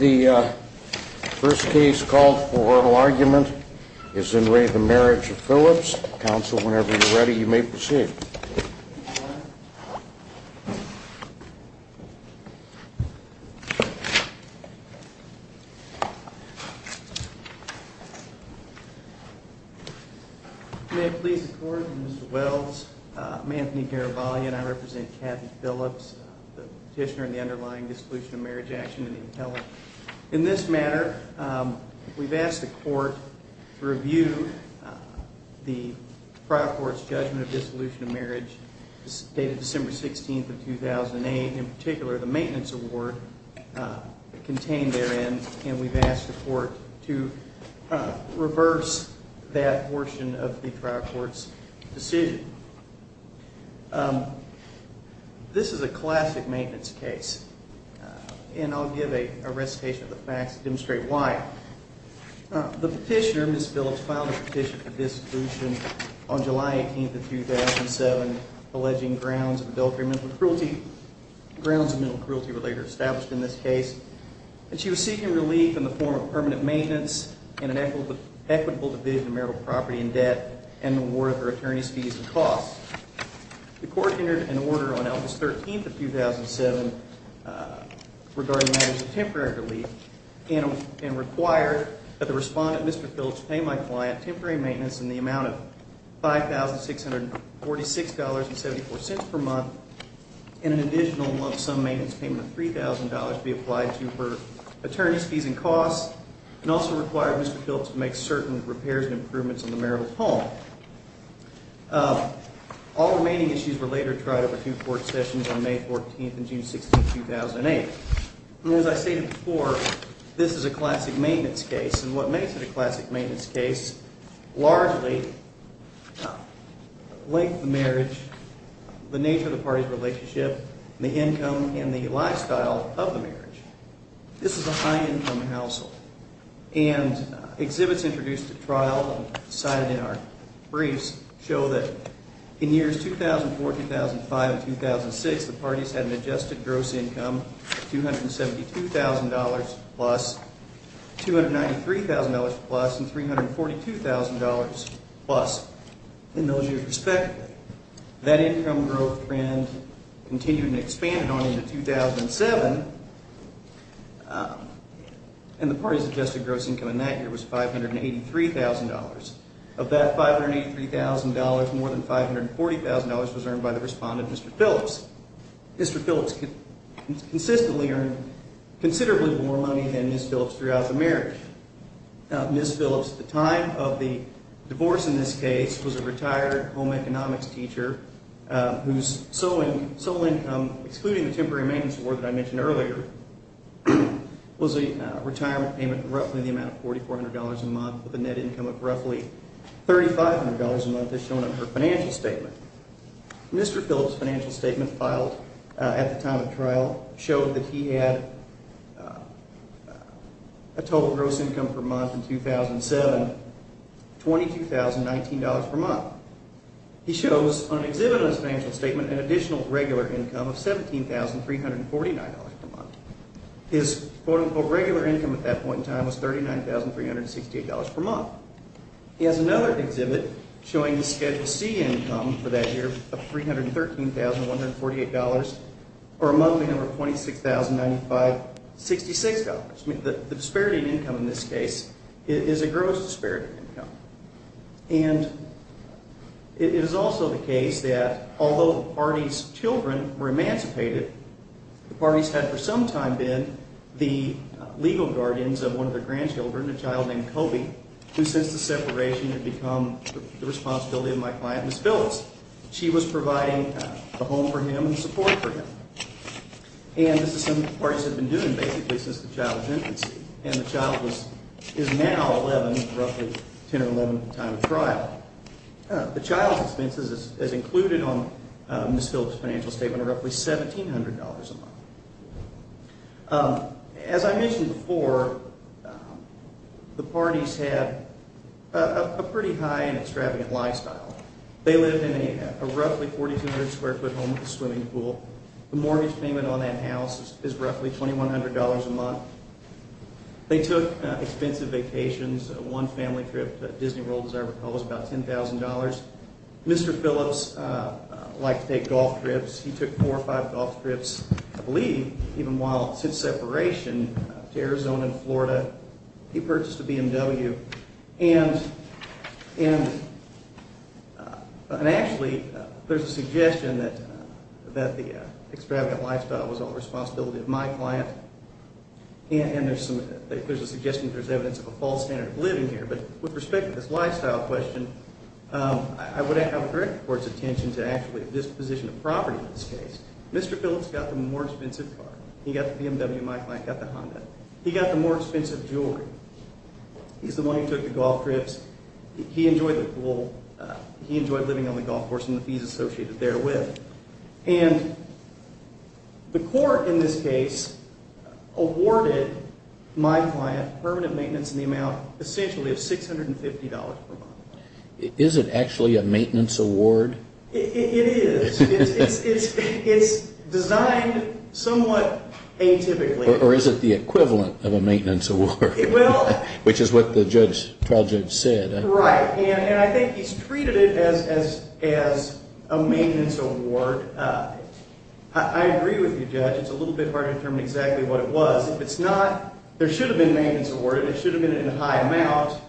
The first case called for argument is in re the Marriage of Phillips. Council, whenever you're ready, you may proceed. May it please the Court, Mr. Wells, I'm Anthony Garibaldi and I represent Kathy Phillips, the petitioner in the underlying dissolution of marriage action in the appellate. In this matter, we've asked the Court to review the trial court's judgment of dissolution of marriage dated December 16th of 2008, in particular the maintenance award contained therein, and we've asked the Court to reverse that portion of the trial court's decision. This is a classic maintenance case, and I'll give a recitation of the facts to demonstrate why. The petitioner, Ms. Phillips, filed a petition for dissolution on July 18th of 2007, alleging grounds of adultery and mental cruelty, grounds of mental cruelty were later established in this case, and she was seeking relief in the form of permanent maintenance in an equitable division of marital property and debt and an award for attorney's fees and costs. The Court entered an order on August 13th of 2007 regarding matters of temporary relief and required that the respondent, Mr. Phillips, pay my client temporary maintenance in the amount of $5,646.74 per month and an additional month's sum maintenance payment of $3,000 to be applied to for attorney's fees and costs and also required Mr. Phillips to make certain repairs and improvements on the marital home. All remaining issues were later tried over two court sessions on May 14th and June 16th, 2008. And as I stated before, this is a classic maintenance case, and what makes it a classic maintenance case, largely length of marriage, the nature of the party's relationship, the income, and the lifestyle of the marriage. This is a high-income household, and exhibits introduced at trial and cited in our briefs show that in years 2004, 2005, and 2006, the parties had an adjusted gross income of $272,000 plus, $293,000 plus, and $342,000 plus. In those years respectively, that income growth trend continued and expanded on into 2007, and the parties adjusted gross income in that year was $583,000. Of that $583,000, more than $540,000 was earned by the respondent, Mr. Phillips. Mr. Phillips consistently earned considerably more money than Ms. Phillips throughout the marriage. Ms. Phillips, at the time of the divorce in this case, was a retired home economics teacher whose sole income, excluding the temporary maintenance award that I mentioned earlier, was a retirement payment of roughly the amount of $4,400 a month with a net income of roughly $3,500 a month, as shown in her financial statement. Mr. Phillips' financial statement filed at the time of trial showed that he had a total gross income per month in 2007 of $22,019 per month. He shows on an exhibit on his financial statement an additional regular income of $17,349 per month. His quote-unquote regular income at that point in time was $39,368 per month. He has another exhibit showing the Schedule C income for that year of $313,148 per month, a number of $26,095.66. The disparity in income in this case is a gross disparity in income. And it is also the case that although the parties' children were emancipated, the parties had for some time been the legal guardians of one of their grandchildren, a child named Kobe, who since the separation had become the responsibility of my client, Ms. Phillips. She was providing a home for him and support for him. And this is something the parties had been doing basically since the child's infancy. And the child is now 11, roughly 10 or 11 at the time of trial. The child's expenses as included on Ms. Phillips' financial statement are roughly $1,700 a month. As I mentioned before, the parties had a pretty high and extravagant lifestyle. They lived in a roughly 4,200-square-foot home with a swimming pool. The mortgage payment on that house is roughly $2,100 a month. They took expensive vacations. One family trip to Disney World, as I recall, was about $10,000. Mr. Phillips liked to take golf trips. He took four or five golf trips, I believe, even while since separation, to Arizona and Florida. He purchased a BMW. And actually there's a suggestion that the extravagant lifestyle was all the responsibility of my client. And there's a suggestion that there's evidence of a false standard of living here. But with respect to this lifestyle question, I would have a direct court's attention to actually disposition of property in this case. Mr. Phillips got the more expensive car. He got the BMW. My client got the Honda. He got the more expensive jewelry. He's the one who took the golf trips. He enjoyed living on the golf course and the fees associated therewith. And the court in this case awarded my client permanent maintenance in the amount essentially of $650 per month. Is it actually a maintenance award? It is. It's designed somewhat atypically. Or is it the equivalent of a maintenance award, which is what the trial judge said? Right. And I think he's treated it as a maintenance award. I agree with you, Judge. It's a little bit hard to determine exactly what it was. If it's not, there should have been a maintenance award. It should have been in a high amount.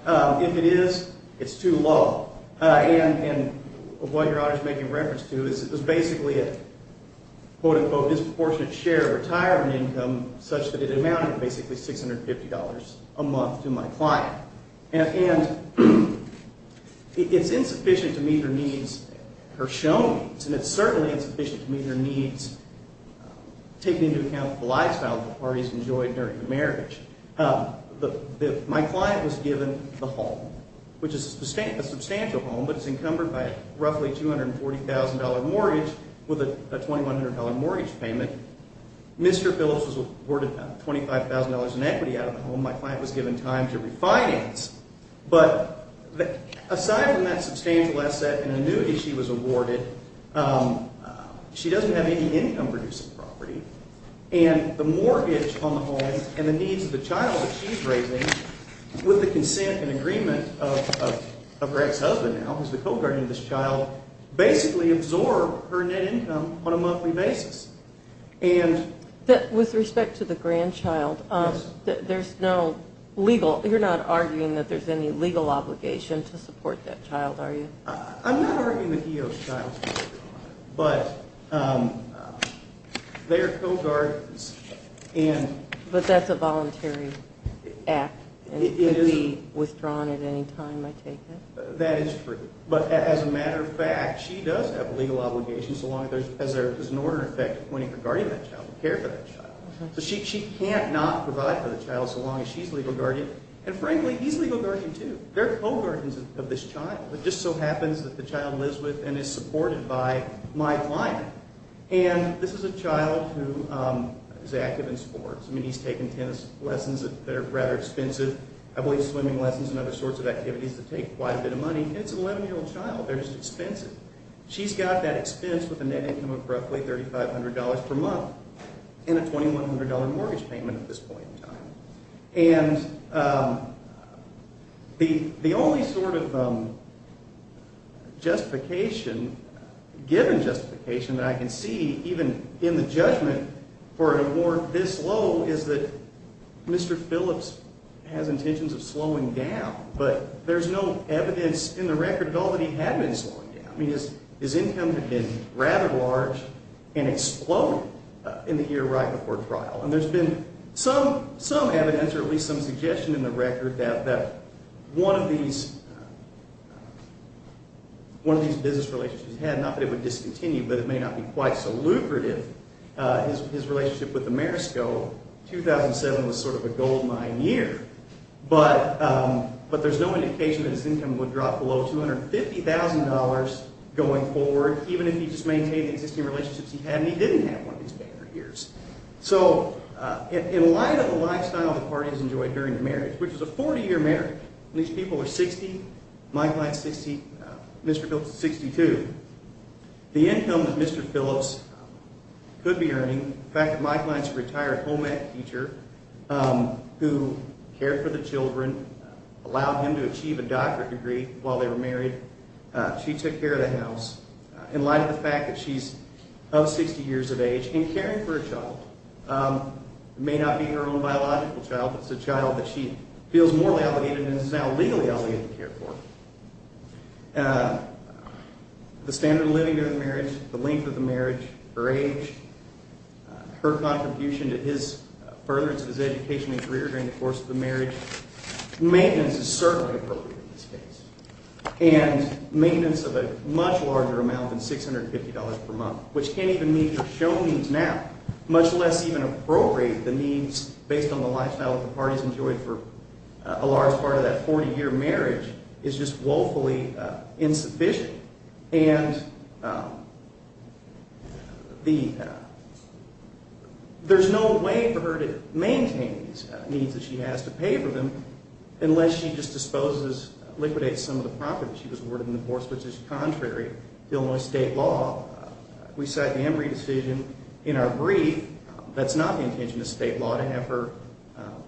If it is, it's too low. And what your honor is making reference to is it was basically a, quote, unquote, disproportionate share of retirement income such that it amounted to basically $650 a month to my client. And it's insufficient to meet her needs, her shown needs, and it's certainly insufficient to meet her needs taking into account the lifestyle the parties enjoyed during the marriage. My client was given the home, which is a substantial home, but it's encumbered by a roughly $240,000 mortgage with a $2,100 mortgage payment. Mr. Phillips was awarded $25,000 in equity out of the home. My client was given time to refinance. But aside from that substantial asset and annuity she was awarded, she doesn't have any income producing property. And the mortgage on the home and the needs of the child that she's raising with the consent and agreement of Greg's husband now, who's the co-guardian of this child, basically absorb her net income on a monthly basis. And... With respect to the grandchild, there's no legal, you're not arguing that there's any legal obligation to support that child, are you? I'm not arguing that he owes the child, but they're co-guardians and... But that's a voluntary act and could be withdrawn at any time, I take it? That is true. But as a matter of fact, she does have a legal obligation so long as there's an order in effect appointing a guardian of that child to care for that child. So she can't not provide for the child so long as she's a legal guardian. And frankly, he's a legal guardian too. They're co-guardians of this child. It just so happens that the child lives with and is supported by my client. And this is a child who is active in sports. I mean, he's taken tennis lessons that are rather expensive. I believe swimming lessons and other sorts of activities that take quite a bit of money. And it's an 11-year-old child. They're just expensive. She's got that expense with a net income of roughly $3,500 per month and a $2,100 mortgage payment at this point in time. And the only sort of justification, given justification, that I can see even in the judgment for an award this low is that Mr. Phillips has intentions of slowing down. But there's no evidence in the record at all that he had been slowing down. I mean, his incomes had been rather large and exploded in the year right before trial. And there's been some evidence or at least some suggestion in the record that one of these business relationships he had, not that it would discontinue, but it may not be quite so lucrative, his relationship with Amerisco, 2007 was sort of a goldmine year. But there's no indication that his income would drop below $250,000 going forward, even if he just maintained the existing relationships he had and he didn't have one of these bad years. So in light of the lifestyle the parties enjoyed during the marriage, which is a 40-year marriage, and these people are 60, Mike Lyons, Mr. Phillips is 62, the income that Mr. Phillips could be earning, the fact that Mike Lyons is a retired home-ec teacher who cared for the children, allowed him to achieve a doctorate degree while they were married, she took care of the house. In light of the fact that she's of 60 years of age and caring for a child, it may not be her own biological child, but it's a child that she feels morally obligated and is now legally obligated to care for, the standard of living during the marriage, the length of the marriage, her age, her contribution to his furtherance of his educational career during the course of the marriage, maintenance is certainly appropriate in this case. And maintenance of a much larger amount than $650 per month, which can't even meet her show needs now, much less even appropriate the needs based on the lifestyle that the parties enjoyed for a large part of that 40-year marriage, is just woefully insufficient. And there's no way for her to maintain these needs that she has to pay for them unless she just disposes, liquidates some of the property that she was awarded in the divorce petition, contrary to Illinois state law, we cite the Embry decision in our brief, that's not the intention of state law to have her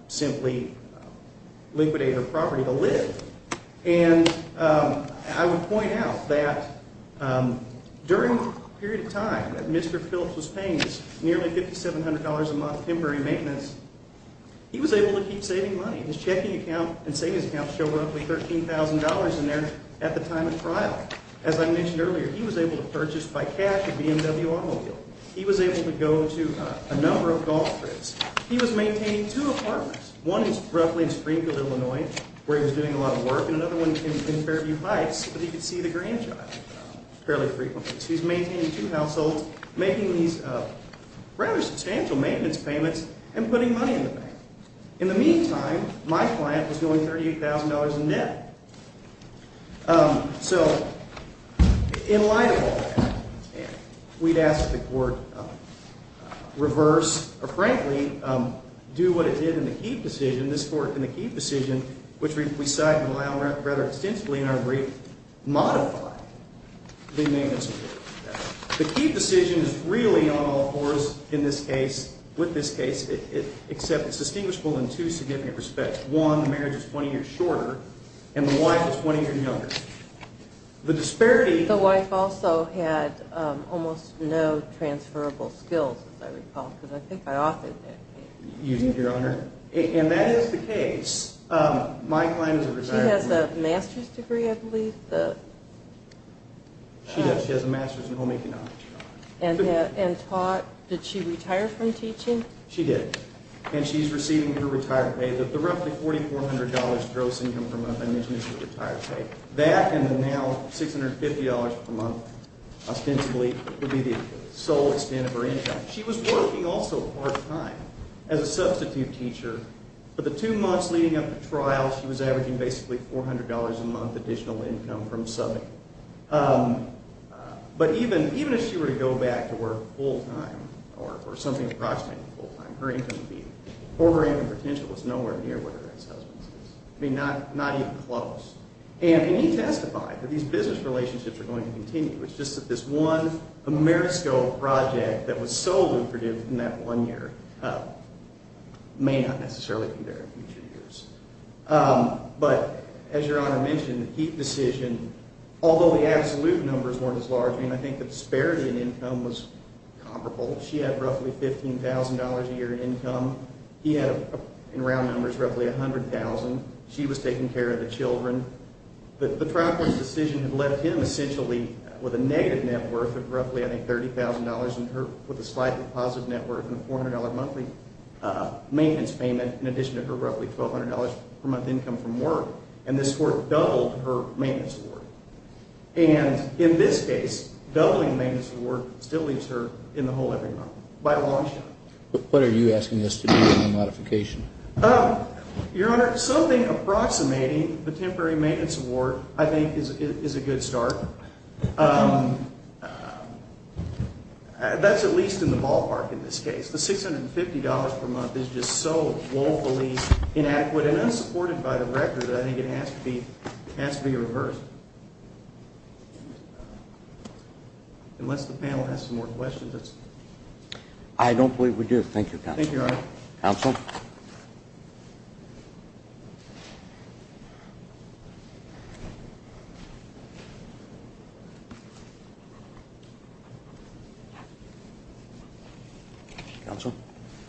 simply liquidate her property to live. And I would point out that during the period of time that Mr. Phillips was paying this nearly $5,700 a month temporary maintenance, he was able to keep saving money. His checking account and savings account show roughly $13,000 in there at the time of trial. As I mentioned earlier, he was able to purchase by cash a BMW automobile. He was able to go to a number of golf trips. He was maintaining two apartments. One is roughly in Springfield, Illinois, where he was doing a lot of work, and another one in Fairview Heights where he could see the grandchild fairly frequently. So he's maintaining two households, making these rather substantial maintenance payments, and putting money in the bank. In the meantime, my client was going $38,000 in debt. So in light of all that, we'd ask that the court reverse, or frankly, do what it did in the Keefe decision. This court, in the Keefe decision, which we cite in the law rather extensively in our brief, modified the maintenance agreement. The Keefe decision is really on all fours in this case, with this case, except it's distinguishable in two significant respects. One, the marriage is 20 years shorter, and the wife is 20 years younger. The disparity— The wife also had almost no transferable skills, as I recall, because I think I offered that case. You did, Your Honor. And that is the case. My client is a retired woman. She has a master's degree, I believe. She does. She has a master's in home economics, Your Honor. And taught—did she retire from teaching? She did. And she's receiving her retired pay. The roughly $4,400 gross income per month I mentioned is her retired pay. That and the now $650 per month, ostensibly, would be the sole extent of her income. She was working also part-time as a substitute teacher. For the two months leading up to trial, she was averaging basically $400 a month additional income from subbing. But even if she were to go back to work full-time or something approximately full-time, her income would be—or her income potential is nowhere near what her ex-husband's is. I mean, not even close. And he testified that these business relationships are going to continue. It's just that this one Amerisco project that was so lucrative in that one year may not necessarily be there in future years. But as Your Honor mentioned, the Heath decision, although the absolute numbers weren't as large, I mean, I think the disparity in income was comparable. She had roughly $15,000 a year in income. He had, in round numbers, roughly $100,000. She was taking care of the children. The trial court's decision had left him essentially with a negative net worth of roughly, I think, $30,000 and her with a slightly positive net worth and a $400 monthly maintenance payment in addition to her roughly $1,200 per month income from work. And this court doubled her maintenance award. And in this case, doubling the maintenance award still leaves her in the hole every month by a long shot. But what are you asking us to do with the modification? Your Honor, something approximating the temporary maintenance award, I think, is a good start. That's at least in the ballpark in this case. The $650 per month is just so woefully inadequate and unsupported by the record that I think it has to be reversed. Unless the panel has some more questions. I don't believe we do. Thank you, counsel. Counsel?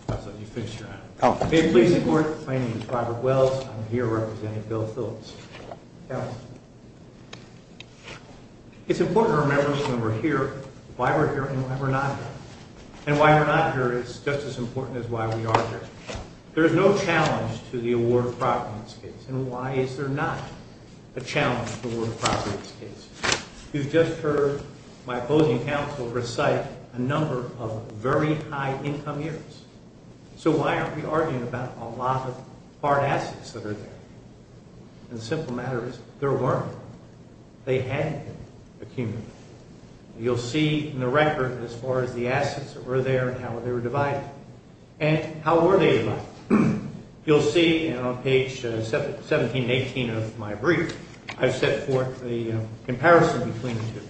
Counsel, you've finished your honor. May it please the court, my name is Robert Wells. I'm here representing Bill Phillips. It's important to remember when we're here, why we're here and why we're not here. And why we're not here is just as important as why we are here. There is no challenge to the award of property in this case. And why is there not a challenge to the award of property in this case? You've just heard my opposing counsel recite a number of very high income years. So why aren't we arguing about a lot of hard assets that are there? And the simple matter is, there weren't. They hadn't been accumulated. You'll see in the record as far as the assets that were there and how they were divided. And how were they divided? You'll see on page 1718 of my brief, I've set forth a comparison between the two.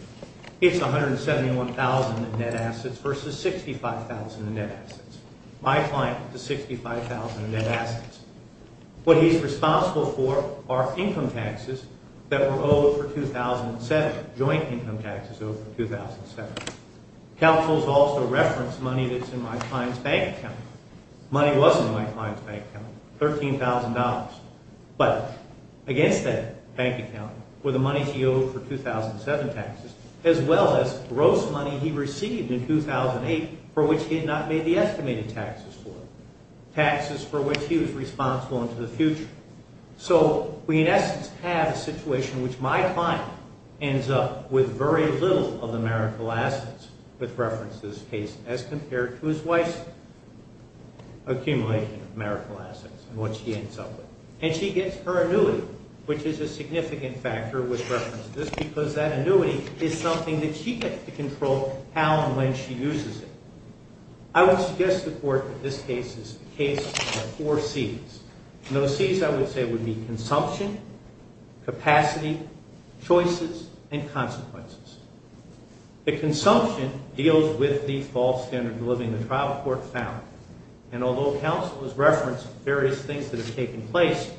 It's $171,000 in net assets versus $65,000 in net assets. My client is $65,000 in net assets. What he's responsible for are income taxes that were owed for 2007, joint income taxes owed for 2007. Counsel's also referenced money that's in my client's bank account. Money wasn't in my client's bank account, $13,000. But against that bank account were the money he owed for 2007 taxes, as well as gross money he received in 2008 for which he had not made the estimated taxes for. Taxes for which he was responsible into the future. So we in essence have a situation in which my client ends up with very little of the marital assets, with reference to this case, as compared to his wife's. Accumulation of marital assets and what she ends up with. And she gets her annuity, which is a significant factor with reference to this, because that annuity is something that she gets to control how and when she uses it. I would suggest to the court that this case is a case of four C's. And those C's I would say would be consumption, capacity, choices, and consequences. The consumption deals with the false standard of living the trial court found. And although counsel has referenced various things that have taken place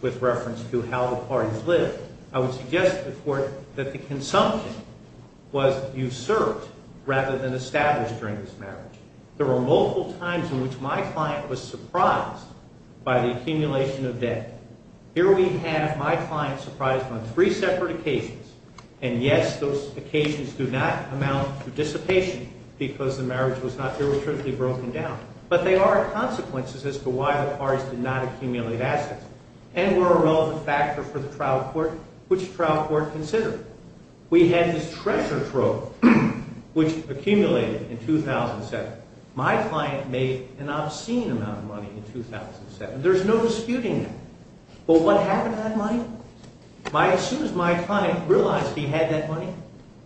with reference to how the parties live, I would suggest to the court that the consumption was usurped rather than established during this marriage. There were multiple times in which my client was surprised by the accumulation of debt. Here we have my client surprised on three separate occasions. And yes, those occasions do not amount to dissipation because the marriage was not derivativesly broken down. But they are consequences as to why the parties did not accumulate assets and were a relevant factor for the trial court, which the trial court considered. We had this treasure trove, which accumulated in 2007. My client made an obscene amount of money in 2007. There's no disputing that. But what happened to that money? As soon as my client realized he had that money,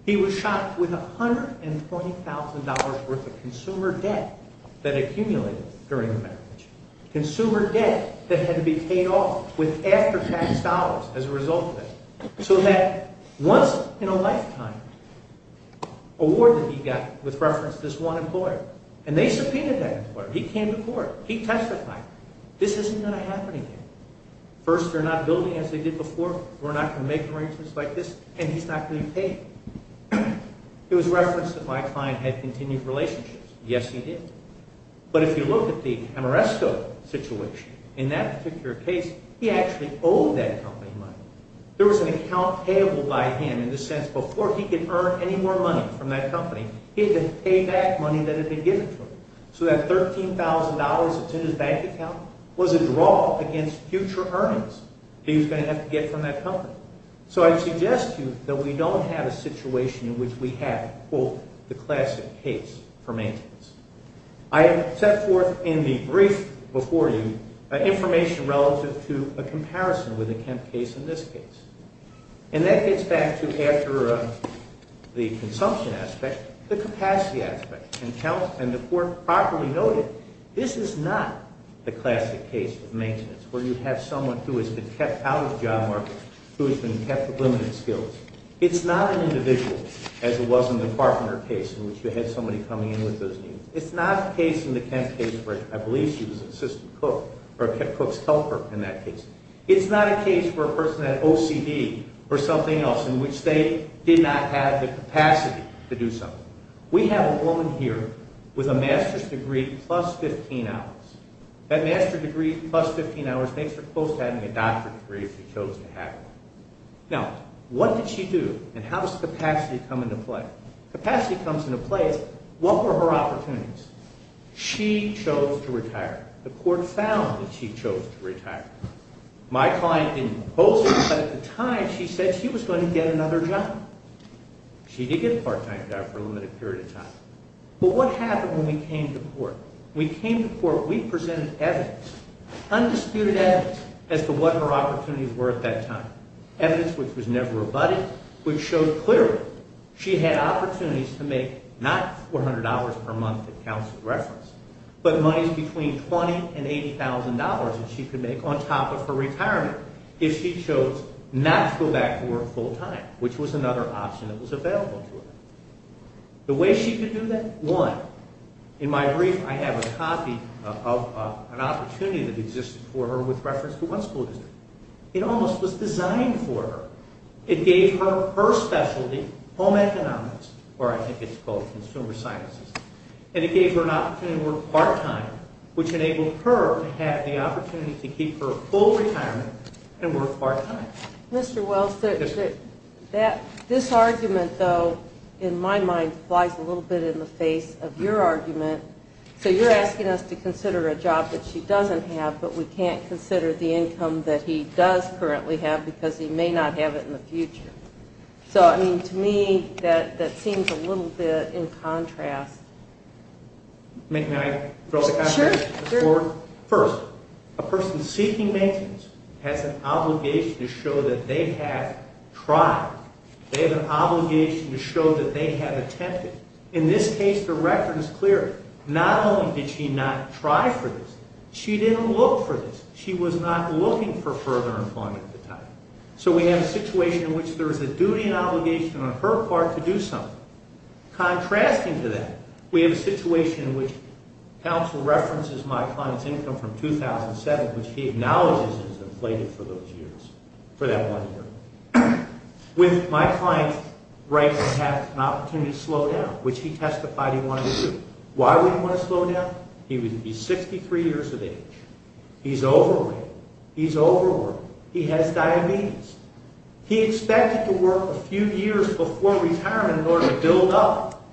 he was shocked with $120,000 worth of consumer debt that accumulated during the marriage. Consumer debt that had to be paid off with after-tax dollars as a result of it. So that once in a lifetime award that he got with reference to this one employer, and they subpoenaed that employer. He came to court. He testified. This isn't going to happen again. First, they're not building as they did before. We're not going to make arrangements like this. And he's not going to be paid. It was referenced that my client had continued relationships. Yes, he did. But if you look at the Amoresco situation, in that particular case, he actually owed that company money. There was an account payable by him in the sense, before he could earn any more money from that company, he had to pay back money that had been given to him. So that $13,000 that's in his bank account was a draw against future earnings that he was going to have to get from that company. So I suggest to you that we don't have a situation in which we have, quote, the classic case for maintenance. I have set forth in the brief before you information relative to a comparison with the Kemp case and this case. And that gets back to, after the consumption aspect, the capacity aspect. And the court properly noted this is not the classic case of maintenance, where you have someone who has been kept out of the job market, who has been kept with limited skills. It's not an individual, as it was in the Carpenter case, in which you had somebody coming in with those needs. It's not a case in the Kemp case where I believe she was an assistant cook or a Kemp cook's helper in that case. It's not a case where a person had OCD or something else in which they did not have the capacity to do something. We have a woman here with a master's degree plus 15 hours. That master's degree plus 15 hours makes her close to having a doctorate degree if she chose to have it. Now, what did she do? And how does capacity come into play? Capacity comes into play as what were her opportunities? She chose to retire. The court found that she chose to retire. My client didn't oppose it, but at the time she said she was going to get another job. She did get a part-time job for a limited period of time. But what happened when we came to court? When we came to court, we presented evidence, undisputed evidence, as to what her opportunities were at that time, evidence which was never abutted, which showed clearly she had opportunities to make not $400 per month, it counts as reference, but monies between $20,000 and $80,000 that she could make on top of her retirement if she chose not to go back to work full-time, which was another option that was available to her. The way she could do that, one, in my brief, I have a copy of an opportunity that existed for her with reference to one school district. It almost was designed for her. It gave her her specialty, home economics, or I think it's called consumer sciences, and it gave her an opportunity to work part-time, which enabled her to have the opportunity to keep her full retirement and work part-time. Mr. Wells, this argument, though, in my mind, flies a little bit in the face of your argument. So you're asking us to consider a job that she doesn't have, but we can't consider the income that he does currently have because he may not have it in the future. So, I mean, to me, that seems a little bit in contrast. May I throw the contrast? Sure. First, a person seeking maintenance has an obligation to show that they have tried. They have an obligation to show that they have attempted. In this case, the record is clear. Not only did she not try for this, she didn't look for this. She was not looking for further employment at the time. So we have a situation in which there is a duty and obligation on her part to do something. Contrasting to that, we have a situation in which counsel references my client's income from 2007, which he acknowledges as inflated for those years, for that one year, with my client's right to have an opportunity to slow down, which he testified he wanted to do. Why would he want to slow down? He's 63 years of age. He's overweight. He's overworked. He has diabetes. He expected to work a few years before retirement in order to build up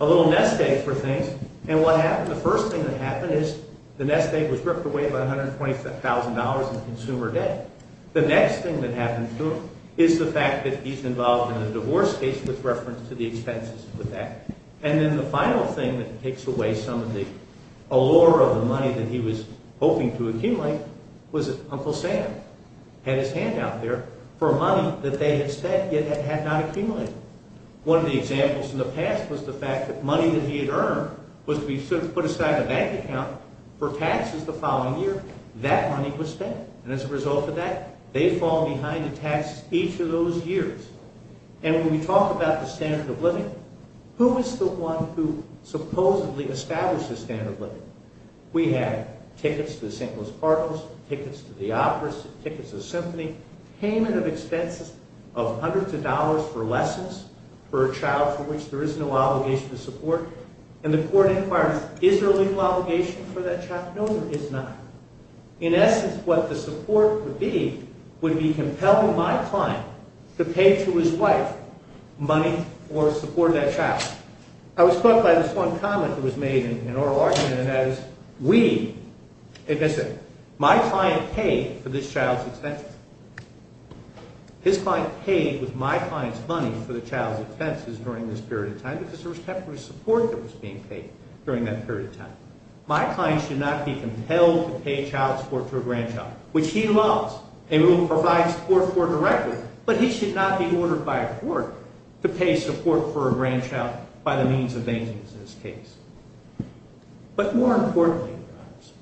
a little nest egg for things. And what happened? The first thing that happened is the nest egg was ripped away by $125,000 in consumer debt. The next thing that happened to him is the fact that he's involved in a divorce case with reference to the expenses with that. And then the final thing that takes away some of the allure of the money that he was hoping to accumulate was that Uncle Sam had his hand out there for money that they had spent yet had not accumulated. One of the examples in the past was the fact that money that he had earned was to be put aside in a bank account for taxes the following year. That money was spent. And as a result of that, they fall behind in taxes each of those years. And when we talk about the standard of living, who is the one who supposedly established the standard of living? We have tickets to the St. Louis Parkers, tickets to the opera, tickets to the symphony, payment of expenses of hundreds of dollars for lessons for a child for which there is no obligation to support. And the court inquires, is there a legal obligation for that child? No, there is not. In essence, what the support would be would be compelling my client to pay to his wife money for supporting that child. I was struck by this one comment that was made in oral argument, and that is, we, in essence, my client paid for this child's expenses. His client paid with my client's money for the child's expenses during this period of time because there was temporary support that was being paid during that period of time. My client should not be compelled to pay child support to a grandchild, which he loves and will provide support for directly, but he should not be ordered by a court to pay support for a grandchild by the means of maintenance in this case. But more importantly, Your Honors,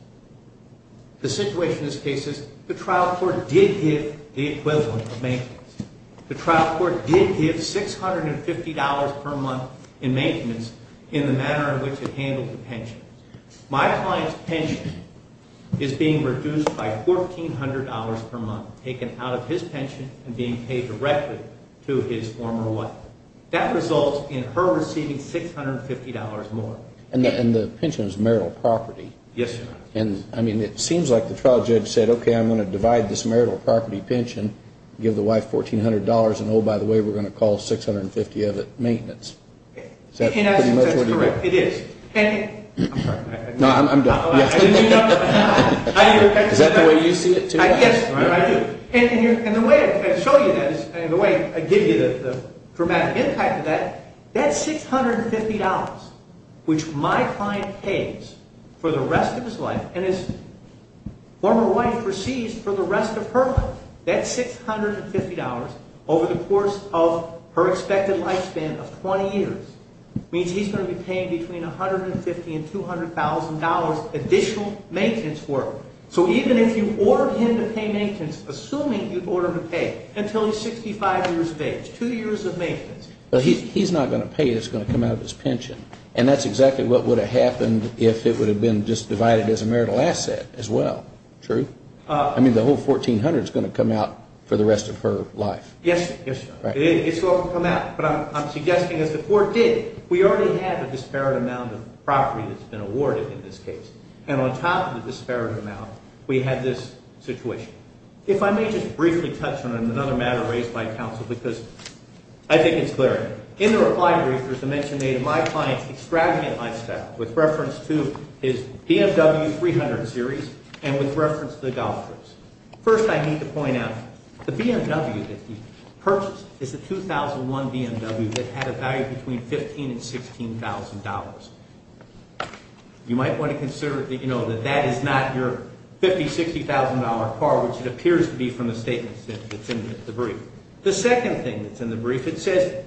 the situation in this case is the trial court did give the equivalent of maintenance. The trial court did give $650 per month in maintenance in the manner in which it handled the pension. My client's pension is being reduced by $1,400 per month taken out of his pension and being paid directly to his former wife. That results in her receiving $650 more. And the pension is marital property. Yes, Your Honor. And, I mean, it seems like the trial judge said, okay, I'm going to divide this marital property pension, give the wife $1,400, and, oh, by the way, we're going to call 650 of it maintenance. In essence, that's correct, it is. I'm sorry. No, I'm done. Is that the way you see it, too? Yes, I do. And the way I show you this and the way I give you the dramatic impact of that, that $650, which my client pays for the rest of his life and his former wife receives for the rest of her life, that $650 over the course of her expected lifespan of 20 years means he's going to be paying between $150,000 and $200,000 additional maintenance for her. So even if you ordered him to pay maintenance, assuming you ordered him to pay until he's 65 years of age, two years of maintenance. But he's not going to pay. It's going to come out of his pension. And that's exactly what would have happened if it would have been just divided as a marital asset as well. True. I mean, the whole $1,400 is going to come out for the rest of her life. Yes, it is. It's all going to come out. But I'm suggesting as the court did, we already had a disparate amount of property that's been awarded in this case. And on top of the disparate amount, we had this situation. If I may just briefly touch on another matter raised by counsel because I think it's clear. In the reply brief, there's a mention made of my client's extravagant lifestyle with reference to his BMW 300 series and with reference to the Golfers. First, I need to point out the BMW that he purchased is a 2001 BMW that had a value between $15,000 and $16,000. You might want to consider that that is not your $50,000, $60,000 car, which it appears to be from the statements that's in the brief. The second thing that's in the brief, it says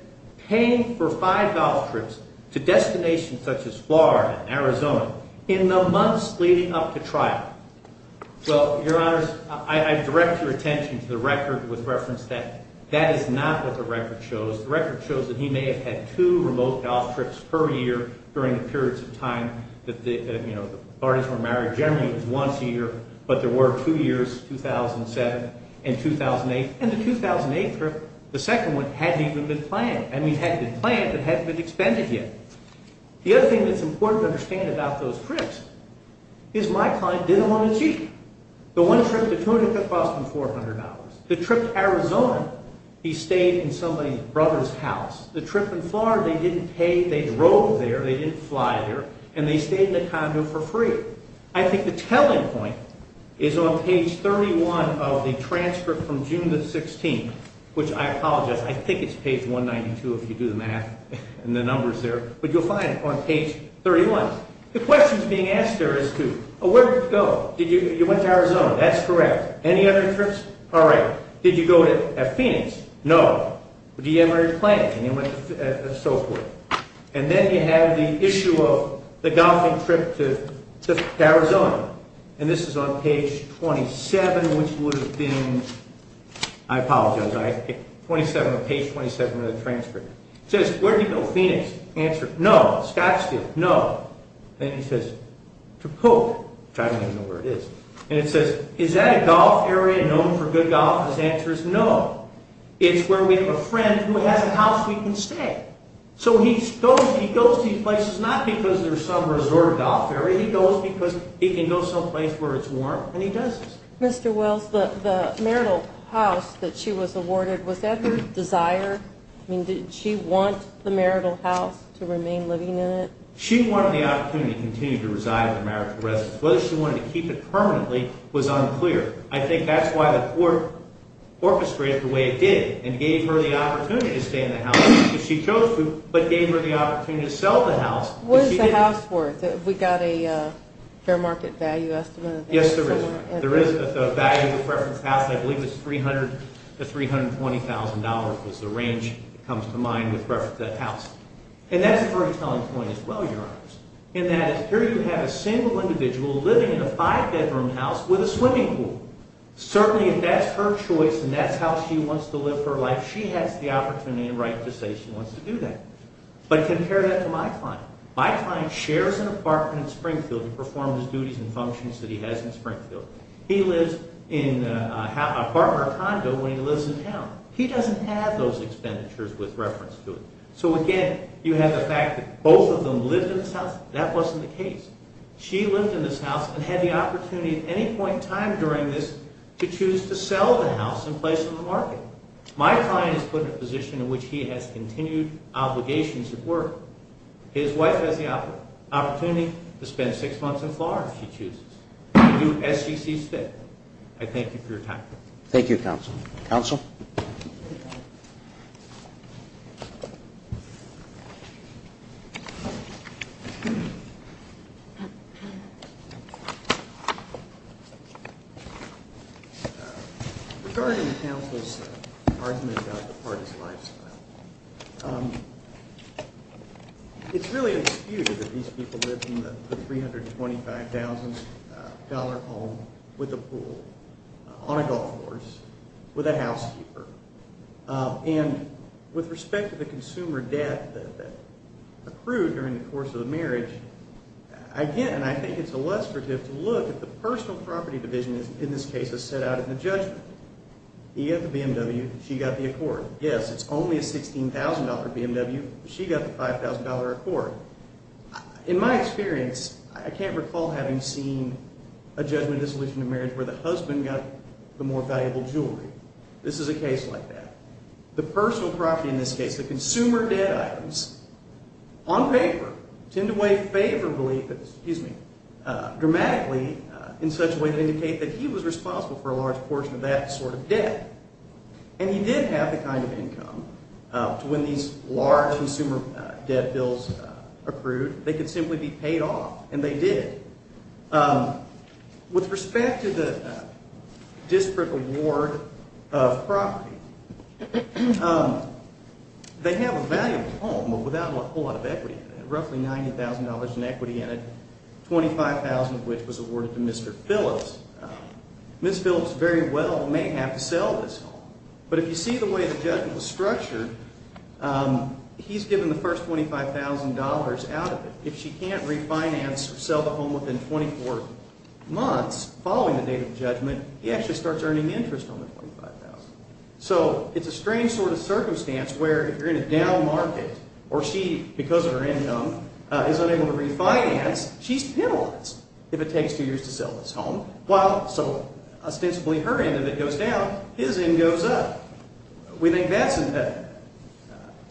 paying for five golf trips to destinations such as Florida and Arizona in the months leading up to trial. Well, Your Honors, I direct your attention to the record with reference that that is not what the record shows. The record shows that he may have had two remote golf trips per year during the periods of time that the parties were married. Generally, it was once a year, but there were two years, 2007 and 2008. And the 2008 trip, the second one, hadn't even been planned. I mean, had been planned, but hadn't been expended yet. The other thing that's important to understand about those trips is my client didn't want to cheat. The one trip to Tunica cost him $400. The trip to Arizona, he stayed in somebody's brother's house. The trip in Florida, they didn't pay. They drove there. They didn't fly there. And they stayed in a condo for free. I think the telling point is on page 31 of the transcript from June the 16th, which I apologize. I think it's page 192 if you do the math and the numbers there. But you'll find it on page 31. The questions being asked there is to, where did you go? You went to Arizona. That's correct. Any other trips? All right. Did you go to Phoenix? No. Did you ever plan it? And so forth. And then you have the issue of the golfing trip to Arizona. And this is on page 27, which would have been, I apologize, page 27 of the transcript. It says, where did you go? Phoenix. Answer, no. Scottsdale, no. Then he says, to Polk, which I don't even know where it is. And it says, is that a golf area known for good golf? His answer is no. It's where we have a friend who has a house we can stay. So he goes to these places not because there's some resort or golf area. He goes because he can go someplace where it's warm, and he does this. Mr. Wells, the marital house that she was awarded, was that her desire? I mean, did she want the marital house to remain living in it? She wanted the opportunity to continue to reside in the marital residence. Whether she wanted to keep it permanently was unclear. I think that's why the court orchestrated the way it did and gave her the opportunity to stay in the house because she chose to, but gave her the opportunity to sell the house because she didn't. What is the house worth? Have we got a fair market value estimate? Yes, there is. There is a value with reference to the house. I believe it's $300,000 to $320,000 was the range that comes to mind with reference to that house. And that's a very telling point as well, Your Honors, in that here you have a single individual living in a five-bedroom house with a swimming pool. Certainly, if that's her choice and that's how she wants to live her life, she has the opportunity and right to say she wants to do that. But compare that to my client. My client shares an apartment in Springfield and performs the duties and functions that he has in Springfield. He lives in an apartment or condo when he lives in town. He doesn't have those expenditures with reference to it. So, again, you have the fact that both of them lived in this house. That wasn't the case. She lived in this house and had the opportunity at any point in time during this to choose to sell the house in place of the market. My client is put in a position in which he has continued obligations at work. His wife has the opportunity to spend six months in Florida if she chooses. You do SEC's fit. I thank you for your time. Thank you, Counsel. Counsel? Thank you. Regarding counsel's argument about the party's lifestyle, it's really disputed that these people live in the $325,000 home with a pool, on a golf course, with a housekeeper. And with respect to the consumer debt that accrued during the course of the marriage, again, I think it's illustrative to look at the personal property division, in this case, as set out in the judgment. He got the BMW. She got the Accord. Yes, it's only a $16,000 BMW. She got the $5,000 Accord. In my experience, I can't recall having seen a judgment dissolution in marriage where the husband got the more valuable jewelry. This is a case like that. The personal property, in this case, the consumer debt items, on paper, tend to weigh favorably, excuse me, dramatically in such a way to indicate that he was responsible for a large portion of that sort of debt. And he did have the kind of income to win these large consumer debt bills accrued. They could simply be paid off, and they did. With respect to the disparate award of property, they have a valuable home without a whole lot of equity in it, roughly $90,000 in equity in it, $25,000 of which was awarded to Mr. Phillips. Ms. Phillips very well may have to sell this home. But if you see the way the judgment was structured, he's given the first $25,000 out of it. If she can't refinance or sell the home within 24 months following the date of judgment, he actually starts earning interest on the $25,000. So it's a strange sort of circumstance where if you're in a down market or she, because of her income, is unable to refinance, she's penalized if it takes two years to sell this home. So ostensibly her end of it goes down, his end goes up. We think that's impediment.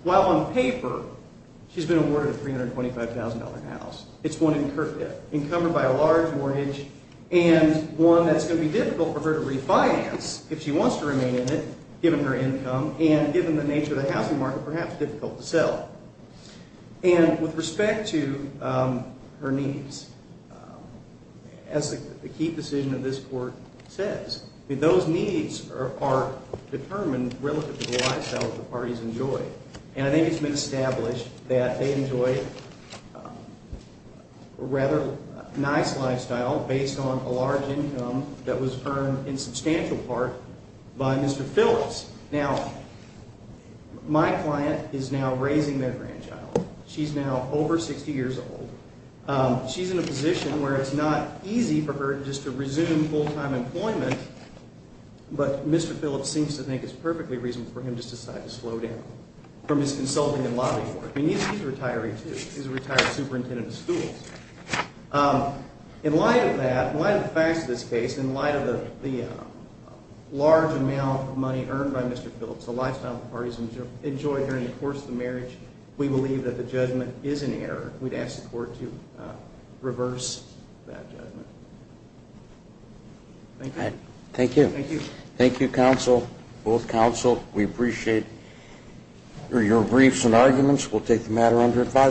While on paper she's been awarded a $325,000 house, it's one encumbered by a large mortgage and one that's going to be difficult for her to refinance if she wants to remain in it given her income and given the nature of the housing market, perhaps difficult to sell. And with respect to her needs, as the key decision of this court says, those needs are determined relative to the lifestyle that the parties enjoy. And I think it's been established that they enjoy a rather nice lifestyle based on a large income that was earned in substantial part by Mr. Phillips. Now, my client is now raising their grandchild. She's now over 60 years old. She's in a position where it's not easy for her just to resume full-time employment, but Mr. Phillips seems to think it's perfectly reasonable for him to just decide to slow down from his consulting and lobbying work. I mean, he's a retired superintendent of schools. In light of that, in light of the facts of this case, in light of the large amount of money earned by Mr. Phillips, the lifestyle the parties enjoy during the course of the marriage, we believe that the judgment is in error. We'd ask the court to reverse that judgment. Thank you. Thank you. Thank you. Thank you, counsel, both counsel. We appreciate your briefs and arguments. We'll take the matter under advisory.